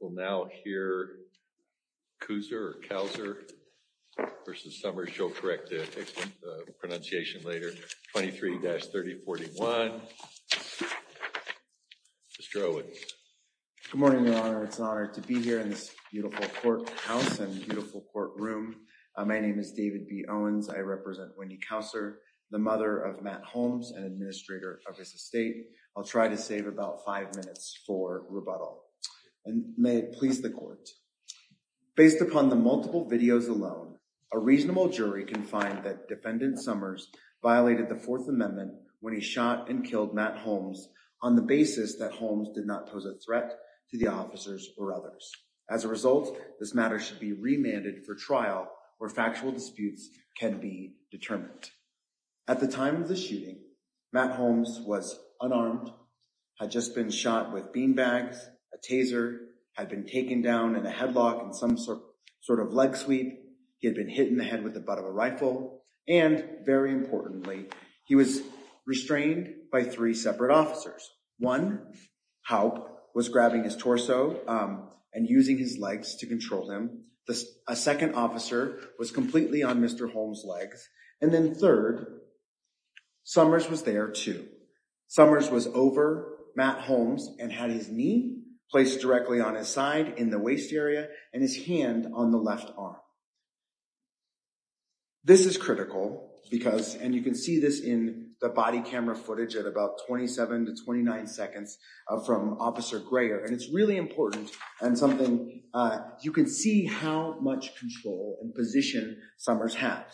We'll now hear Couser v. Somers. She'll correct the pronunciation later. 23-3041. Mr. Owens. Good morning, Your Honor. It's an honor to be here in this beautiful courthouse and beautiful courtroom. My name is David B. Owens. I represent Wendy Couser, the mother of Matt Holmes, an administrator of his estate. I'll try to save about five minutes for rebuttal, and may it please the Court. Based upon the multiple videos alone, a reasonable jury can find that Defendant Somers violated the Fourth Amendment when he shot and killed Matt Holmes on the basis that Holmes did not pose a threat to the officers or others. As a result, this matter should be remanded for trial where factual disputes can be determined. At the time of the shooting, Matt Holmes was unarmed, had just been shot with beanbags, a taser, had been taken down in a headlock in some sort of leg sweep, he had been hit in the head with the butt of a rifle, and, very importantly, he was restrained by three separate officers. One, Haup, was grabbing his torso and using his legs to control him. A second officer was completely on Mr. Holmes' legs. And then third, Somers was there too. Somers was over Matt Holmes and had his knee placed directly on his side in the waist area, and his hand on the left arm. This is critical because, and you can see this in the body camera footage at about 27 to 29 seconds from Officer Greer, and it's really important and something you can see how much control and position Somers has.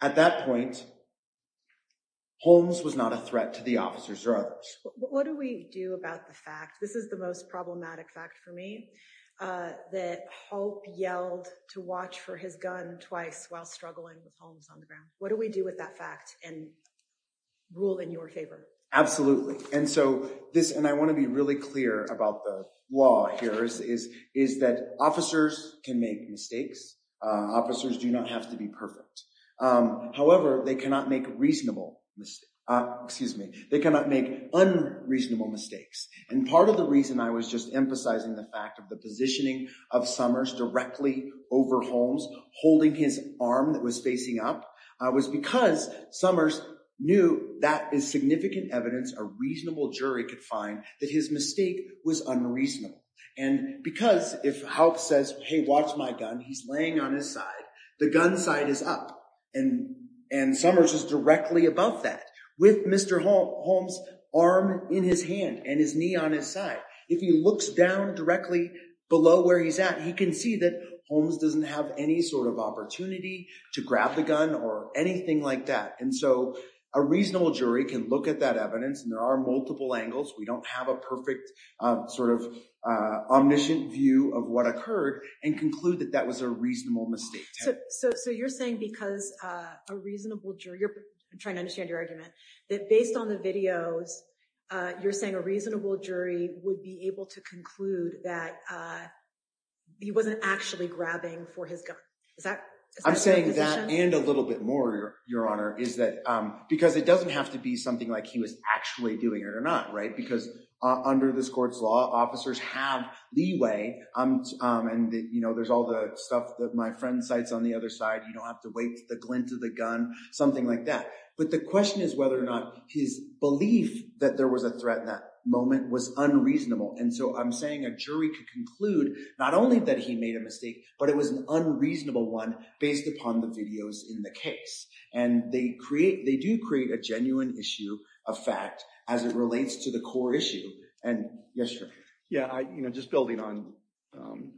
At that point, Holmes was not a threat to the officers or others. What do we do about the fact, this is the most problematic fact for me, that Haup yelled to watch for his gun twice while struggling with Holmes on the ground? What do we do with that fact and rule in your favor? Absolutely. And so this, and I want to be really clear about the law here, is that officers can make mistakes. Officers do not have to be perfect. However, they cannot make reasonable, excuse me, they cannot make unreasonable mistakes. And part of the reason I was just emphasizing the fact of the positioning of Somers directly over Holmes, holding his arm that was facing up, was because Somers knew that is significant evidence a reasonable jury could find that his mistake was unreasonable. And because if Haup says, hey, watch my gun, he's laying on his side, the gun side is up, and Somers is directly above that with Mr. Holmes' arm in his hand and his knee on his side. If he looks down directly below where he's at, he can see that Holmes doesn't have any opportunity to grab the gun or anything like that. And so a reasonable jury can look at that evidence, and there are multiple angles. We don't have a perfect omniscient view of what occurred and conclude that that was a reasonable mistake. So you're saying because a reasonable jury, you're trying to understand your argument, that based on the videos, you're saying a reasonable jury would be able to conclude that he wasn't actually grabbing for his gun? I'm saying that and a little bit more, Your Honor, is that because it doesn't have to be something like he was actually doing it or not, right? Because under this court's law, officers have leeway, and there's all the stuff that my friend cites on the other side. You don't have to wait for the glint of the gun, something like that. But the question is whether or not his belief that there was a threat in that moment was unreasonable. And so I'm saying a jury could based upon the videos in the case. And they do create a genuine issue of fact as it relates to the core issue. And yes, sir. Yeah, just building on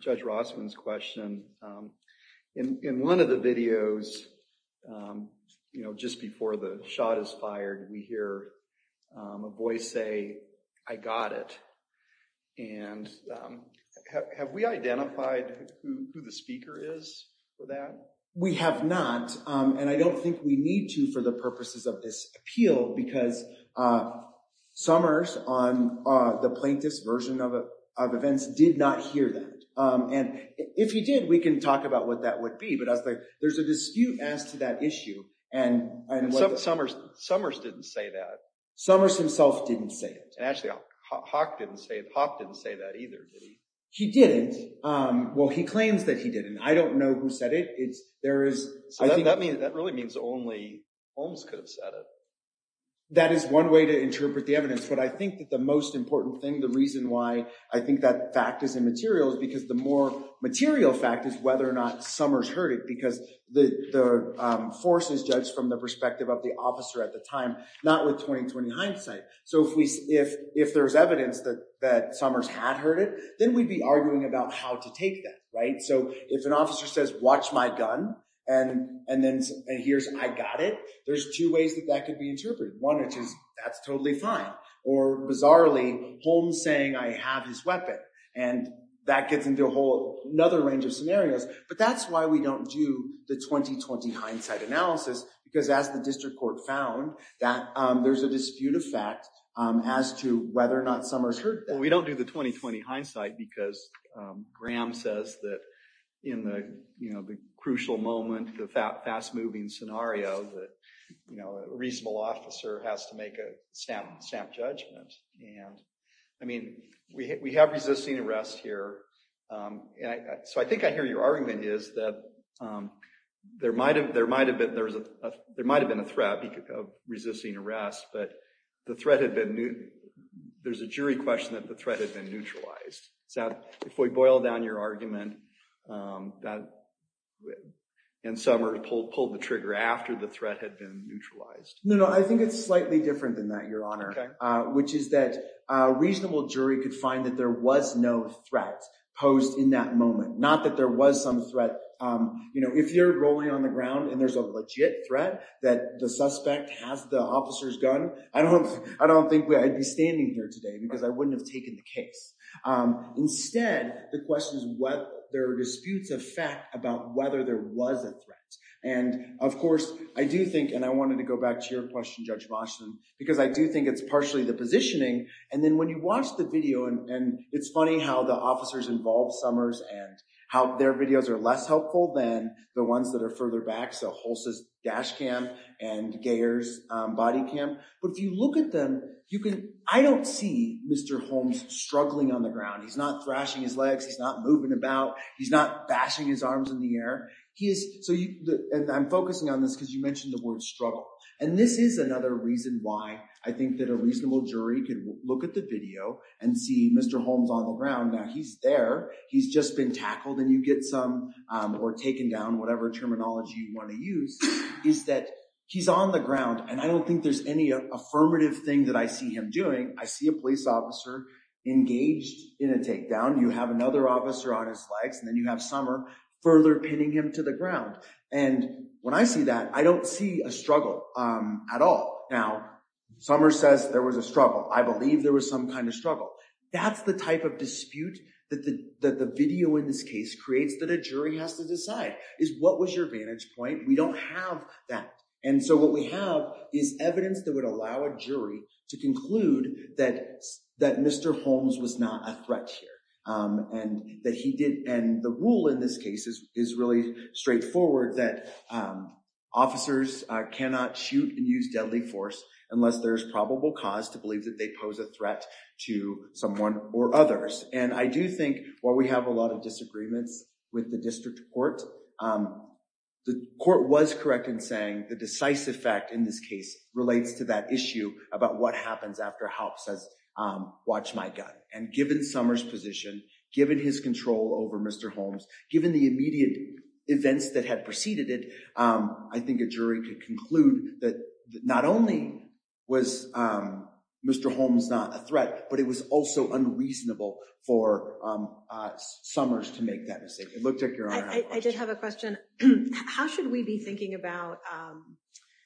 Judge Rossman's question, in one of the videos, just before the shot is fired, we hear a voice say, I got it. And have we identified who the We have not. And I don't think we need to for the purposes of this appeal, because Summers on the plaintiff's version of events did not hear that. And if he did, we can talk about what that would be. But I was like, there's a dispute as to that issue. And Summers didn't say that. Summers himself didn't say it. Actually, Hawk didn't say that either, did he? He didn't. Well, he claims that he didn't. I don't know who said it. That really means only Holmes could have said it. That is one way to interpret the evidence. But I think that the most important thing, the reason why I think that fact is immaterial is because the more material fact is whether or not Summers heard it. Because the force is judged from the perspective of the officer at the time, not with 20-20 hindsight. So if there's evidence that Summers had heard it, then we'd be arguing about how to take that, right? So if an officer says, watch my gun, and then hears, I got it, there's two ways that that could be interpreted. One, which is, that's totally fine. Or bizarrely, Holmes saying, I have his weapon. And that gets into a whole another range of scenarios. But that's why we don't do the 20-20 hindsight analysis, because as the district court found, that there's a dispute of fact as to whether or not Summers heard that. Well, we don't do the 20-20 hindsight, because Graham says that in the crucial moment, the fast-moving scenario, that a reasonable officer has to make a stamp judgment. And I mean, we have resisting arrest here. So I think I hear your argument is that there might have been a threat of resisting arrest, but there's a jury question that the threat had been neutralized. So if we boil down your argument, that in summary, pulled the trigger after the threat had been neutralized. No, no. I think it's slightly different than that, Your Honor, which is that a reasonable jury could find that there was no threat posed in that rolling on the ground, and there's a legit threat that the suspect has the officer's gun. I don't think I'd be standing here today, because I wouldn't have taken the case. Instead, the question is whether there are disputes of fact about whether there was a threat. And of course, I do think, and I wanted to go back to your question, Judge Washington, because I do think it's partially the positioning. And then when you watch the video, and it's funny how the officers involved and how their videos are less helpful than the ones that are further back. So Holst's dash cam and Geyer's body cam. But if you look at them, I don't see Mr. Holmes struggling on the ground. He's not thrashing his legs. He's not moving about. He's not bashing his arms in the air. I'm focusing on this because you mentioned the word struggle. And this is another reason why I think that a reasonable jury could look at the video and see Mr. Holmes on the ground. Now, he's there. He's just been tackled. And you get some or taken down, whatever terminology you want to use, is that he's on the ground. And I don't think there's any affirmative thing that I see him doing. I see a police officer engaged in a takedown. You have another officer on his legs. And then you have Summer further pinning him to the ground. And when I see that, I don't see a struggle at all. Now, Summer says there was a struggle. I believe there was some kind of struggle. That's the type of dispute that the video in this case creates that a jury has to decide, is what was your vantage point? We don't have that. And so what we have is evidence that would allow a jury to conclude that Mr. Holmes was not a threat here. And the rule in this case is really straightforward, that officers cannot shoot and use deadly force unless there's probable cause to believe that they pose a threat to someone or others. And I do think while we have a lot of disagreements with the district court, the court was correct in saying the decisive fact in this case relates to that issue about what happens after Halp says, watch my gun. And given Summer's position, given his control over Mr. Holmes, given the immediate events that had preceded it, I think a jury could conclude that not only was Mr. Holmes not a threat, but it was also unreasonable for Summers to make that mistake. It looked like you're on. I did have a question. How should we be thinking about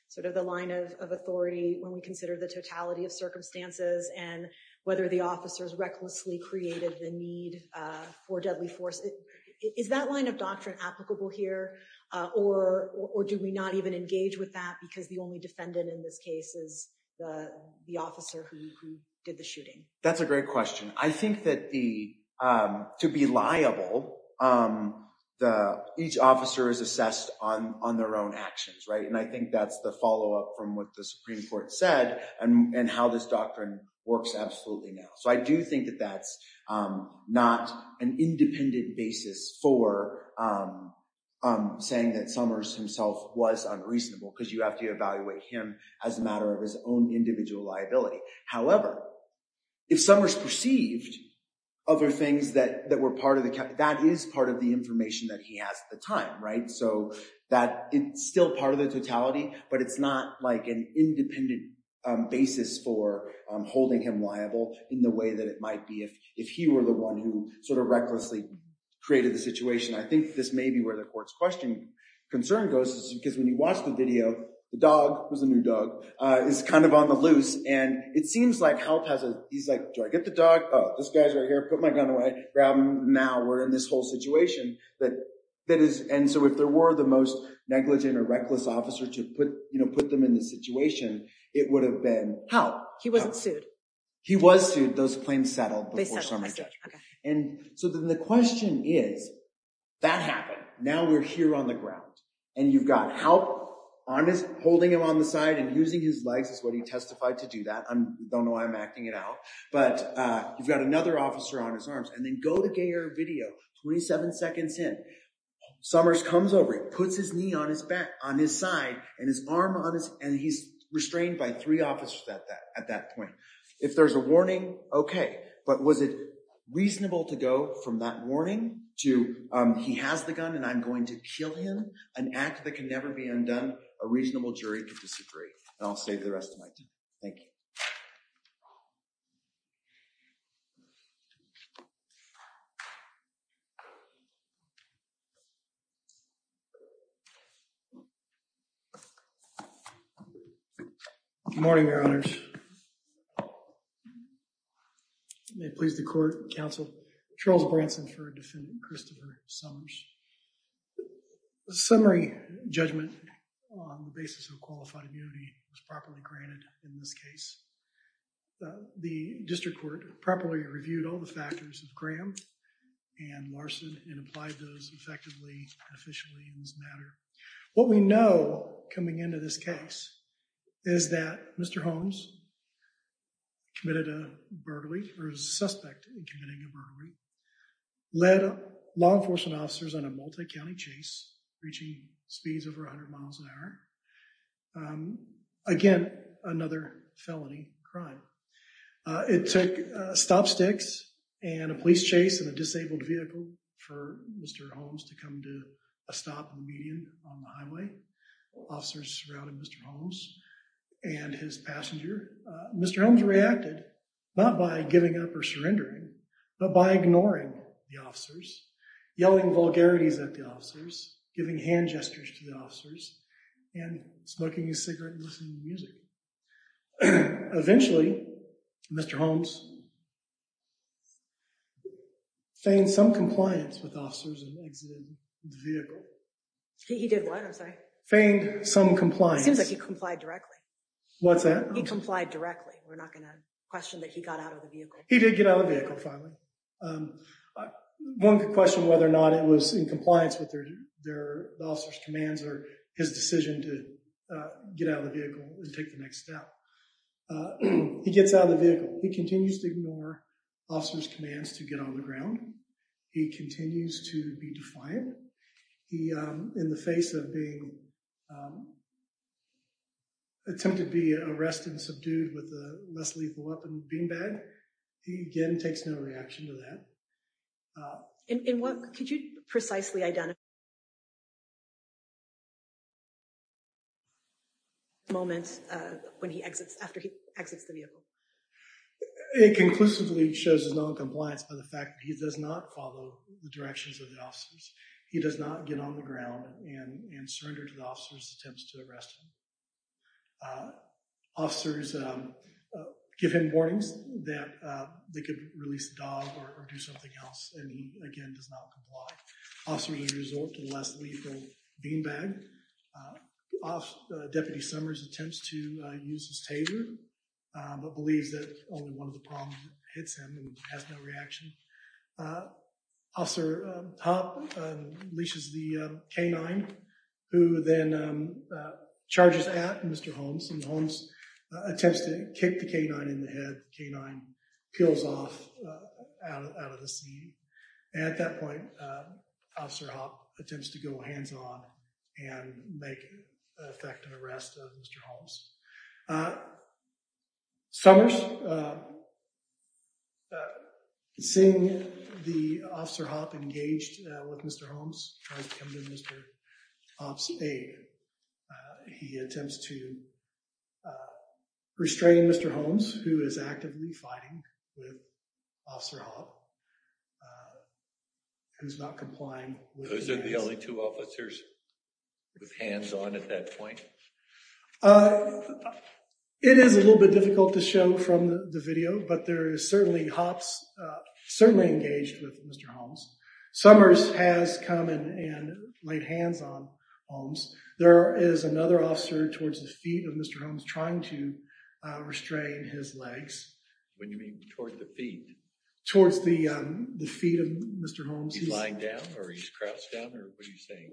sort of the line of authority when we consider the totality of circumstances and whether the officers recklessly created the need for deadly force? Is that line of doctrine applicable here or do we not even engage with that because the only defendant in this case is the officer who did the shooting? That's a great question. I think that to be liable, each officer is assessed on their own actions, right? And I think that's the follow-up from what the Supreme Court said and how this doctrine works absolutely now. So I do think that that's not an independent basis for saying that Summers himself was unreasonable because you have to evaluate him as a matter of his own individual liability. However, if Summers perceived other things that were part of the, that is part of the information that he has at the time, right? So that it's still part of the totality, but it's not like an independent basis for holding him liable in the way that it might be if he were the one who sort of recklessly created the situation. I think this may be where the court's question concern goes because when you watch the video, the dog, who's a new dog, is kind of on the loose and it seems like help has a, he's like, do I get the dog? Oh, this guy's right here. Put my gun away. Grab him now. We're in this whole situation that that is, and so if there were the most negligent or reckless officer to put, you know, put them in this situation, it would have been help. He wasn't sued. He was sued. Those claims settled. And so then the question is that happened. Now we're here on the ground and you've got help on his holding him on the side and using his legs is what he testified to do that. I don't know why I'm acting it out, but you've got another officer on his arms and then go to get your video. 27 And he's restrained by three officers at that point. If there's a warning, okay. But was it reasonable to go from that warning to he has the gun and I'm going to kill him, an act that can never be undone, a reasonable jury could disagree. And I'll save the rest of my time. Thank you. Good morning, Your Honors. May it please the court, counsel. Charles Branson for Defendant Christopher Summers. Summary judgment on the basis of qualified immunity was properly granted in this case. The district court properly reviewed all the factors of Graham and Larson and applied those effectively and efficiently in this matter. What we know coming into this case is that Mr. Holmes committed a burglary or is suspect in committing a burglary, led law enforcement officers on a multi-county chase, reaching speeds over 100 miles an hour. Again, another felony crime. It took stop sticks and a police chase and a disabled vehicle for Mr. Holmes to come to a stop in the median on the highway. Officers surrounded Mr. Holmes and his passenger. Mr. Holmes reacted not by giving up or surrendering, but by ignoring the officers, yelling vulgarities at the officers, giving hand gestures to the officers and smoking a cigarette and listening to music. Eventually, Mr. Holmes feigned some compliance with officers and exited the vehicle. He did what? I'm sorry. Feigned some compliance. It seems like he complied directly. What's that? He complied directly. We're not going to question that he got out of the vehicle. He did get out of the vehicle finally. One could question whether or not it was in compliance with their officers' commands or his decision to get out of the vehicle and take the next step. He gets out of the vehicle. He continues to ignore officers' commands to get on the ground. He continues to be defiant. In the face of being attempted to be arrested and subdued with a less lethal weapon being bad, he again takes no reaction to that. Could you precisely identify the moment when he exits after he exits the vehicle? It conclusively shows his non-compliance by the fact that he does not follow the directions of the officers. He does not get on the ground and they could release the dog or do something else. He, again, does not comply. Officers resort to less lethal beanbag. Deputy Summers attempts to use his taser but believes that only one of the bombs hits him and has no reaction. Officer Topp unleashes the canine who then charges at Mr. Holmes. Holmes attempts to kick the canine in the head. The canine peels off out of the scene. At that point, Officer Hopp attempts to go hands-on and make an arrest of Mr. Holmes. Summers, seeing that Officer Hopp engaged with Mr. Holmes, tries to come to Mr. He attempts to restrain Mr. Holmes who is actively fighting with Officer Hopp who's not complying. Those are the only two officers with hands-on at that point? It is a little bit difficult to show from the video but there is certainly Hopps engaged with Mr. Holmes. Summers has come and laid hands on Holmes. There is another officer towards the feet of Mr. Holmes trying to restrain his legs. What do you mean towards the feet? Towards the feet of Mr. Holmes. He's lying down or he's crouched down or what are you saying?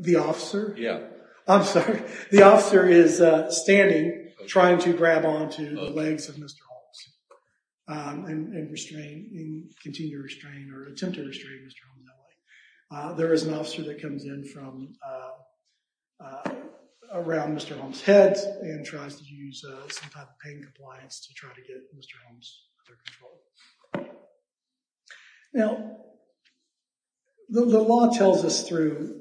The officer? Yeah. I'm sorry. The officer is standing trying to grab onto the legs of Mr. Holmes and continue to restrain or attempt to restrain Mr. Holmes. There is an officer that comes in from around Mr. Holmes' head and tries to use some type of pain compliance to try to get Mr. Holmes under control. Now, the law tells us through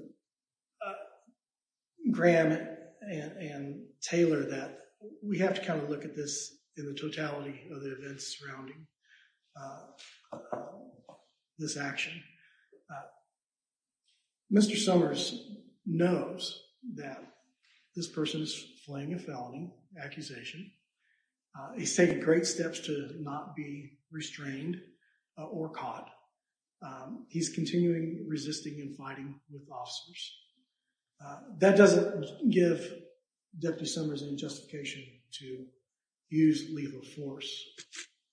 Graham and Taylor that we have to kind of look at the reality of the events surrounding this action. Mr. Summers knows that this person is flaying a felony accusation. He's taking great steps to not be restrained or caught. He's continuing resisting and fighting with officers. That doesn't give Deputy Summers any justification to use lethal force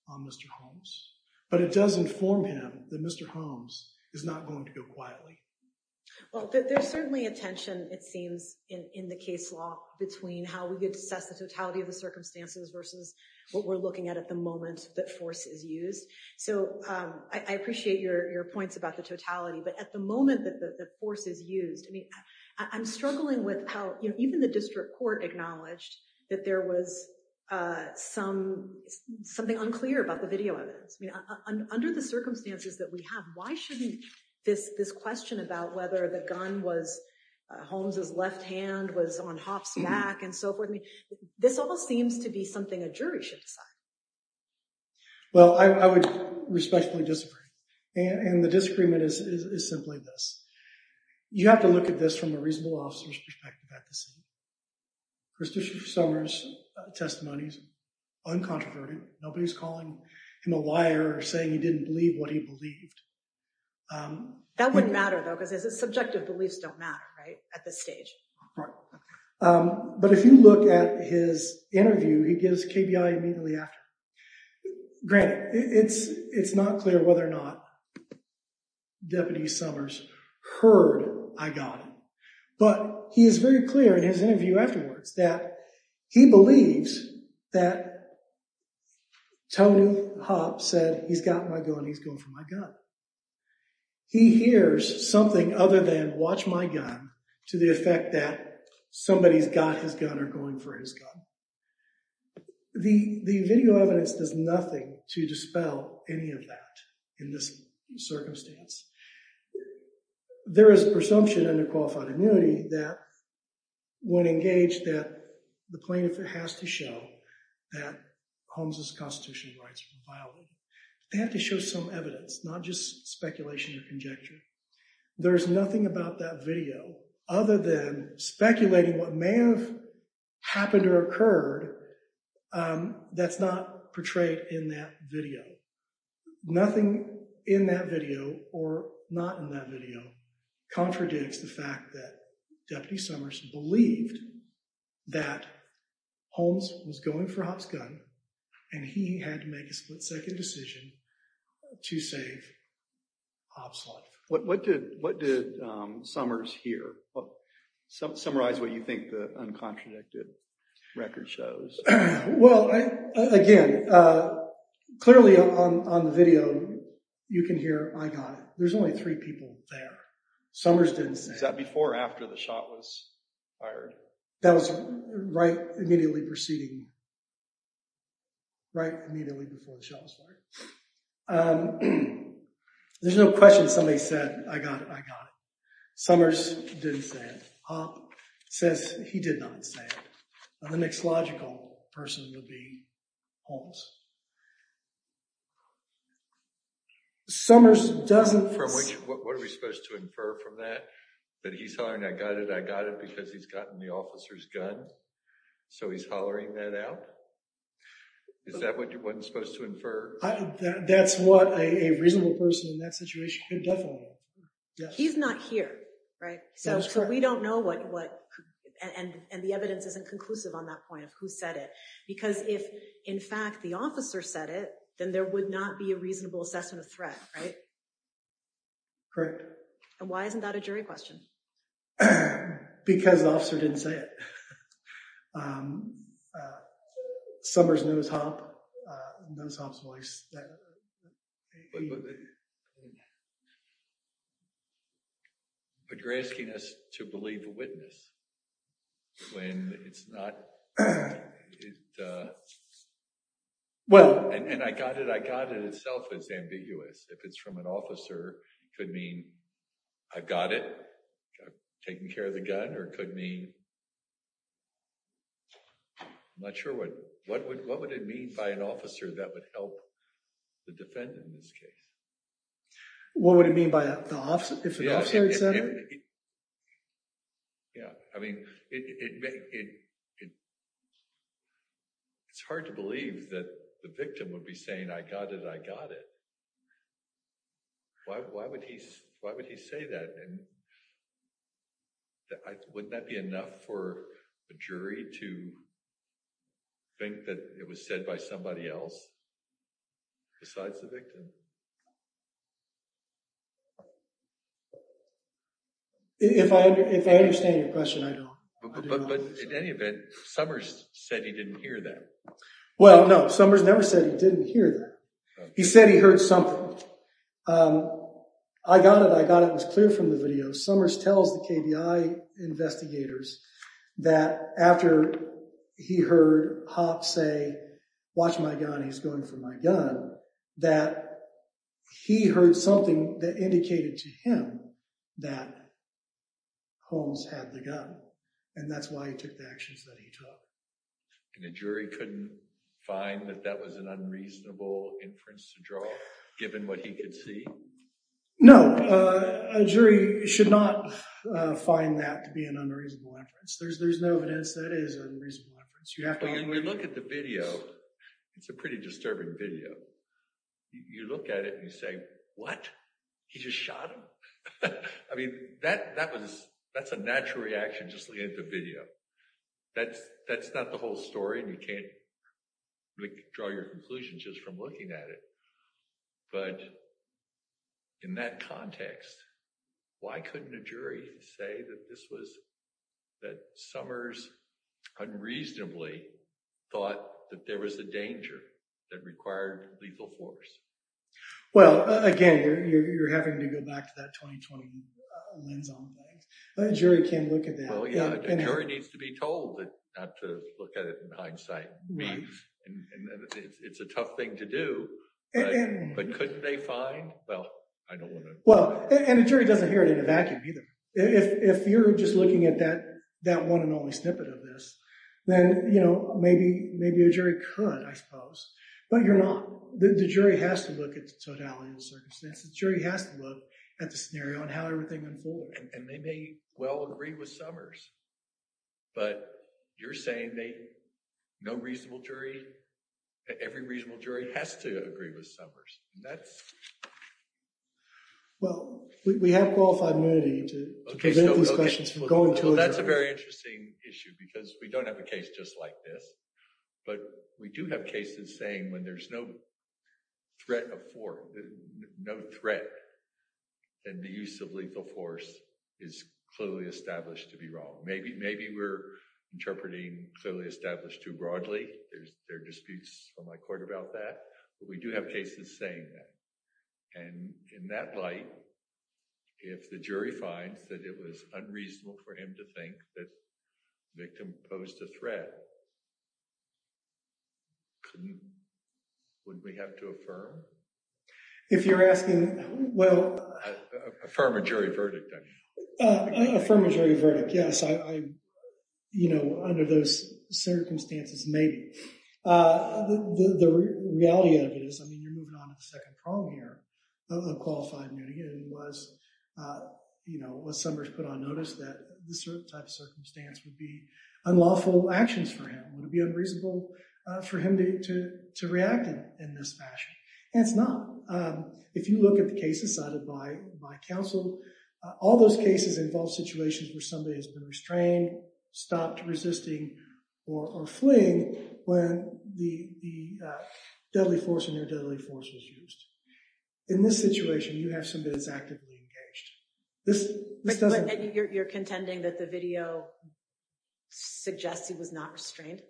on Mr. Holmes, but it does inform him that Mr. Holmes is not going to go quietly. Well, there's certainly a tension, it seems, in the case law between how we would assess the totality of the circumstances versus what we're looking at at the moment that force is used. So I appreciate your points about the totality, but at the moment that the force is used, I mean, I'm struggling with how, you know, even the district court acknowledged that there was something unclear about the video evidence. I mean, under the circumstances that we have, why shouldn't this question about whether the gun was Holmes' left hand was on Hoff's back and so forth, I mean, this all seems to be something a jury should decide. Well, I would especially disagree, and the disagreement is simply this. You have to look at this from a reasonable officer's perspective at the scene. Christopher Summers' testimony is uncontroverted. Nobody's calling him a liar or saying he didn't believe what he believed. That wouldn't matter, though, because his subjective beliefs don't matter, right, at this stage. Right. But if you look at his interview, he gives KBI immediately after. Granted, it's not clear whether or not Deputy Summers heard I got him, but he is very clear in his interview afterwards that he believes that Tony Hopp said he's got my gun, he's going for my gun. He hears something other than watch my gun to the effect that somebody's got his gun or going for his gun. The video evidence does nothing to dispel any of that in this circumstance. There is a presumption under qualified immunity that when engaged that the plaintiff has to show that Holmes' constitutional rights were violated. They have to show some evidence, not just speculation or conjecture. There's nothing about that video other than speculating what may have happened or occurred that's not portrayed in that video. Nothing in that video or not in that video contradicts the fact that Deputy Summers believed that Holmes was going for Hopp's gun and he had to make a split second decision to save Hopp's life. What did Summers hear? Summarize what you think the uncontradicted record shows. Well, again, clearly on the video you can hear I got it. There's only three people there. Summers didn't say. Is that before or after the shot was fired? That was right immediately preceding, right immediately before the shot was fired. Summers didn't say it. Hopp says he did not say it. The next logical person would be Holmes. Summers doesn't... From which, what are we supposed to infer from that? That he's hollering I got it, I got it because he's gotten the officer's gun, so he's hollering that out? Is that what you're supposed to infer? That's what a reasonable person in that situation could definitely... He's not here, right? So we don't know what and the evidence isn't conclusive on that point of who said it because if in fact the officer said it then there would not be a reasonable assessment of threat, right? Correct. And why isn't that a jury question? Because the officer didn't say it. Summers knows Hopp. Knows Hopp's voice. But you're asking us to believe a witness when it's not... Well... And I got it, I got it itself is ambiguous. If it's from an officer, could mean I got it, I've taken care of the gun, or it could mean... I'm not sure what... What would it mean by an officer that would help the defendant in this case? What would it mean if an officer had said it? Yeah, I mean, it's hard to believe that the why would he say that? And wouldn't that be enough for a jury to think that it was said by somebody else besides the victim? If I understand your question, I don't. But in any event, Summers said he didn't hear that. Well, no, Summers never said he didn't hear that. He said he heard something. I got it, I got it. It was clear from the video. Summers tells the KBI investigators that after he heard Hopp say, watch my gun, he's going for my gun, that he heard something that indicated to him that Holmes had the gun. And that's why he took the actions that he took. And the jury couldn't find that that was an unreasonable inference to draw, given what he could see? No, a jury should not find that to be an unreasonable inference. There's no evidence that is an unreasonable inference. You have to... When you look at the video, it's a pretty disturbing video. You look at it and you say, what? He just shot him. I mean, that's a natural reaction, just looking at the video. That's not the whole story, and you can't really draw your conclusions just from looking at it. But in that context, why couldn't a jury say that this was... thought that there was a danger that required lethal force? Well, again, you're having to go back to that 2020 lens on things. A jury can't look at that. A jury needs to be told not to look at it in hindsight. It's a tough thing to do, but couldn't they find? Well, I don't want to... Well, and a jury doesn't hear it in a vacuum either. If you're just looking at that one and maybe a jury could, I suppose, but you're not. The jury has to look at the totality of the circumstances. The jury has to look at the scenario and how everything unfolds. And they may well agree with Summers, but you're saying no reasonable jury... Every reasonable jury has to agree with Summers. That's... Well, we have qualified immunity to prevent these questions from going to a jury. That's a very interesting issue because we don't have a case just like this, but we do have cases saying when there's no threat of force, no threat, then the use of lethal force is clearly established to be wrong. Maybe we're interpreting clearly established too broadly. There are disputes on my court about that, but we do have cases saying that. And in that light, if the jury finds that it was unreasonable for him to think that the victim posed a threat, wouldn't we have to affirm? If you're asking, well... Affirm a jury verdict, I mean. Affirm a jury verdict, yes. Under those circumstances, maybe. The reality of it is, you're moving on to the second prong here of qualified immunity. It was what Summers put on notice that this type of circumstance would be unlawful actions for him. It would be unreasonable for him to react in this fashion. And it's not. If you look at the cases cited by counsel, all those cases involve situations where somebody has been restrained, stopped resisting, or fleeing when the deadly force in their deadly force was used. In this situation, you have somebody that's actively engaged. But you're contending that the video suggests he was not restrained?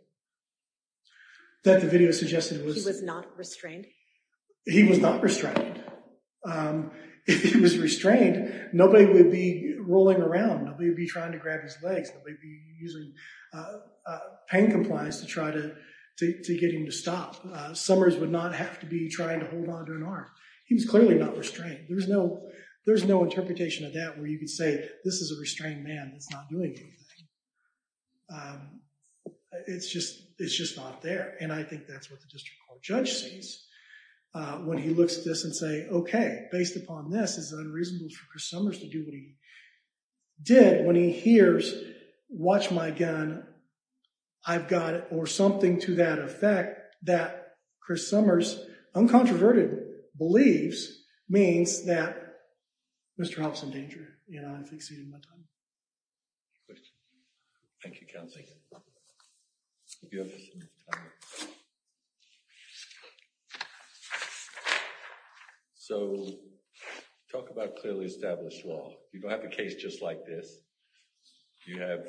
That the video suggested he was... He was not restrained? He was not restrained. If he was restrained, nobody would be rolling around. Nobody would trying to grab his legs. Nobody would be using pain compliance to try to get him to stop. Summers would not have to be trying to hold on to an arm. He was clearly not restrained. There's no interpretation of that where you could say, this is a restrained man that's not doing anything. It's just not there. And I think that's what the district court judge sees when he looks at this and say, okay, based upon this, it's unreasonable for Chris Summers to do what he did when he hears, watch my gun, I've got it, or something to that effect that Chris Summers, uncontroverted, believes means that Mr. Hopps in danger. You know, I've exceeded my time. Thank you, counsel. Thank you. So talk about clearly established law. You don't have a case just like this. You have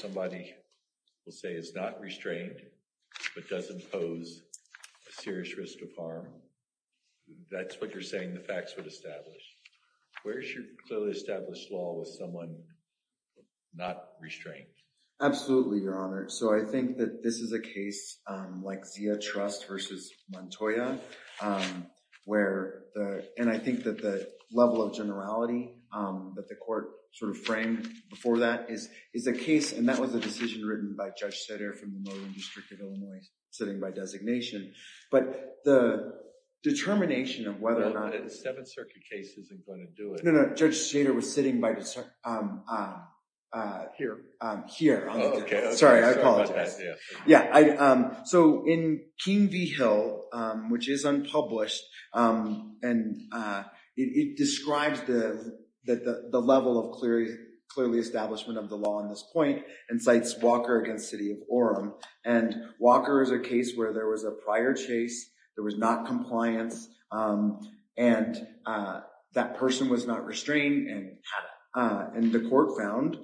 somebody will say it's not restrained, but doesn't pose a serious risk of harm. That's what you're saying the facts would establish. Where's your clearly established law with someone not restrained? Absolutely, Your Honor. So I think that this is a case like Zia Trust versus Montoya, where, and I think that the level of generality that the court sort of framed before that is a case, and that was a decision written by Judge Sater from the Northern District of Illinois sitting by designation. But the determination of whether or not... The Seventh Circuit case isn't going to do it. Judge Sater was sitting by... Here. Here. Sorry, I apologize. Yeah. So in King v. Hill, which is unpublished, and it describes the level of clearly establishment of the law in this point and cites Walker against City of Orem. And Walker is a case where there was a prior chase, there was not compliance, and that person was not restrained and the court found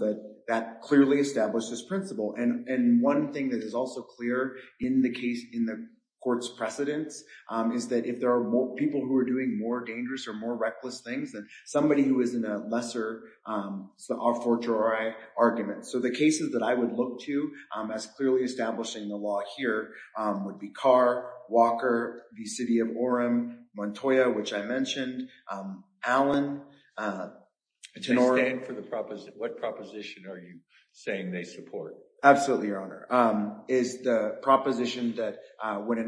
that that clearly established this principle. And one thing that is also clear in the court's precedence is that if there are people who are doing more dangerous or more reckless things, then somebody who is in a lesser fortiori argument. So the cases that I would look to as clearly establishing the law here would be Carr, Walker, the City of Orem, Montoya, which I mentioned, Allen, Tenora... Do they stand for the... What proposition are you saying they support? Absolutely, Your Honor. Is the proposition that when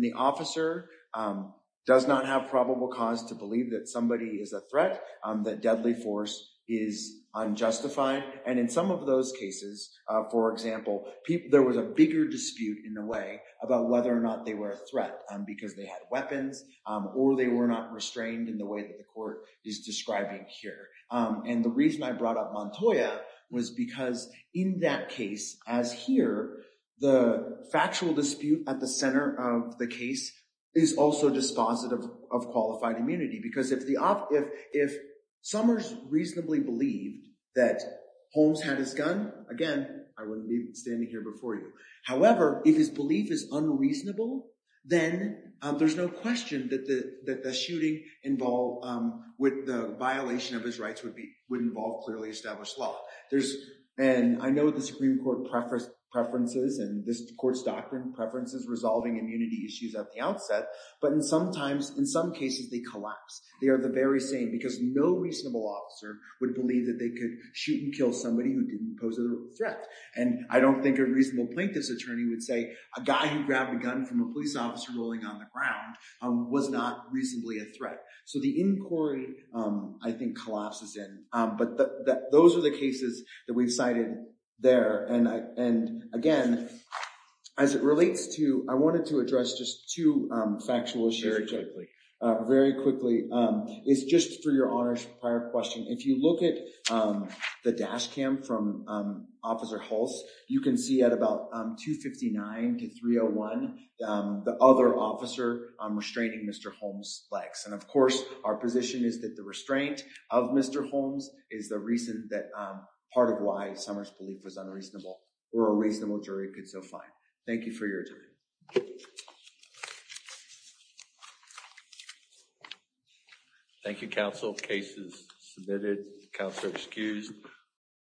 the officer does not have probable cause to believe that somebody is a threat, that deadly force is unjustified. And in some of those cases, for example, there was a bigger dispute in a way about whether or not they were a threat because they had weapons or they were not restrained in the way that the court is describing here. And the reason I brought up Montoya was because in that case, as here, the factual dispute at the center of the case is also dispositive of qualified immunity. Because if Somers reasonably believed that Holmes had his gun, again, I wouldn't be standing here before you. However, if his belief is unreasonable, then there's no question that the violation of his rights would involve clearly established law. And I know the Supreme Court preferences and this court's doctrine preferences resolving immunity issues at the outset, but in some cases, they collapse. They believe that they could shoot and kill somebody who didn't pose a threat. And I don't think a reasonable plaintiff's attorney would say, a guy who grabbed a gun from a police officer rolling on the ground was not reasonably a threat. So the inquiry, I think, collapses in. But those are the cases that we've cited there. And again, as it relates to... I wanted to address just two factual issues. Very quickly. It's just for your honor's prior question. If you look at the dash cam from Officer Hulse, you can see at about 2.59 to 3.01, the other officer restraining Mr. Holmes' legs. And of course, our position is that the restraint of Mr. Holmes is the reason that part of why Summers' belief was unreasonable or a reasonable jury could so find. Thank you for your time. Thank you, counsel. Case is submitted. Counselor excused.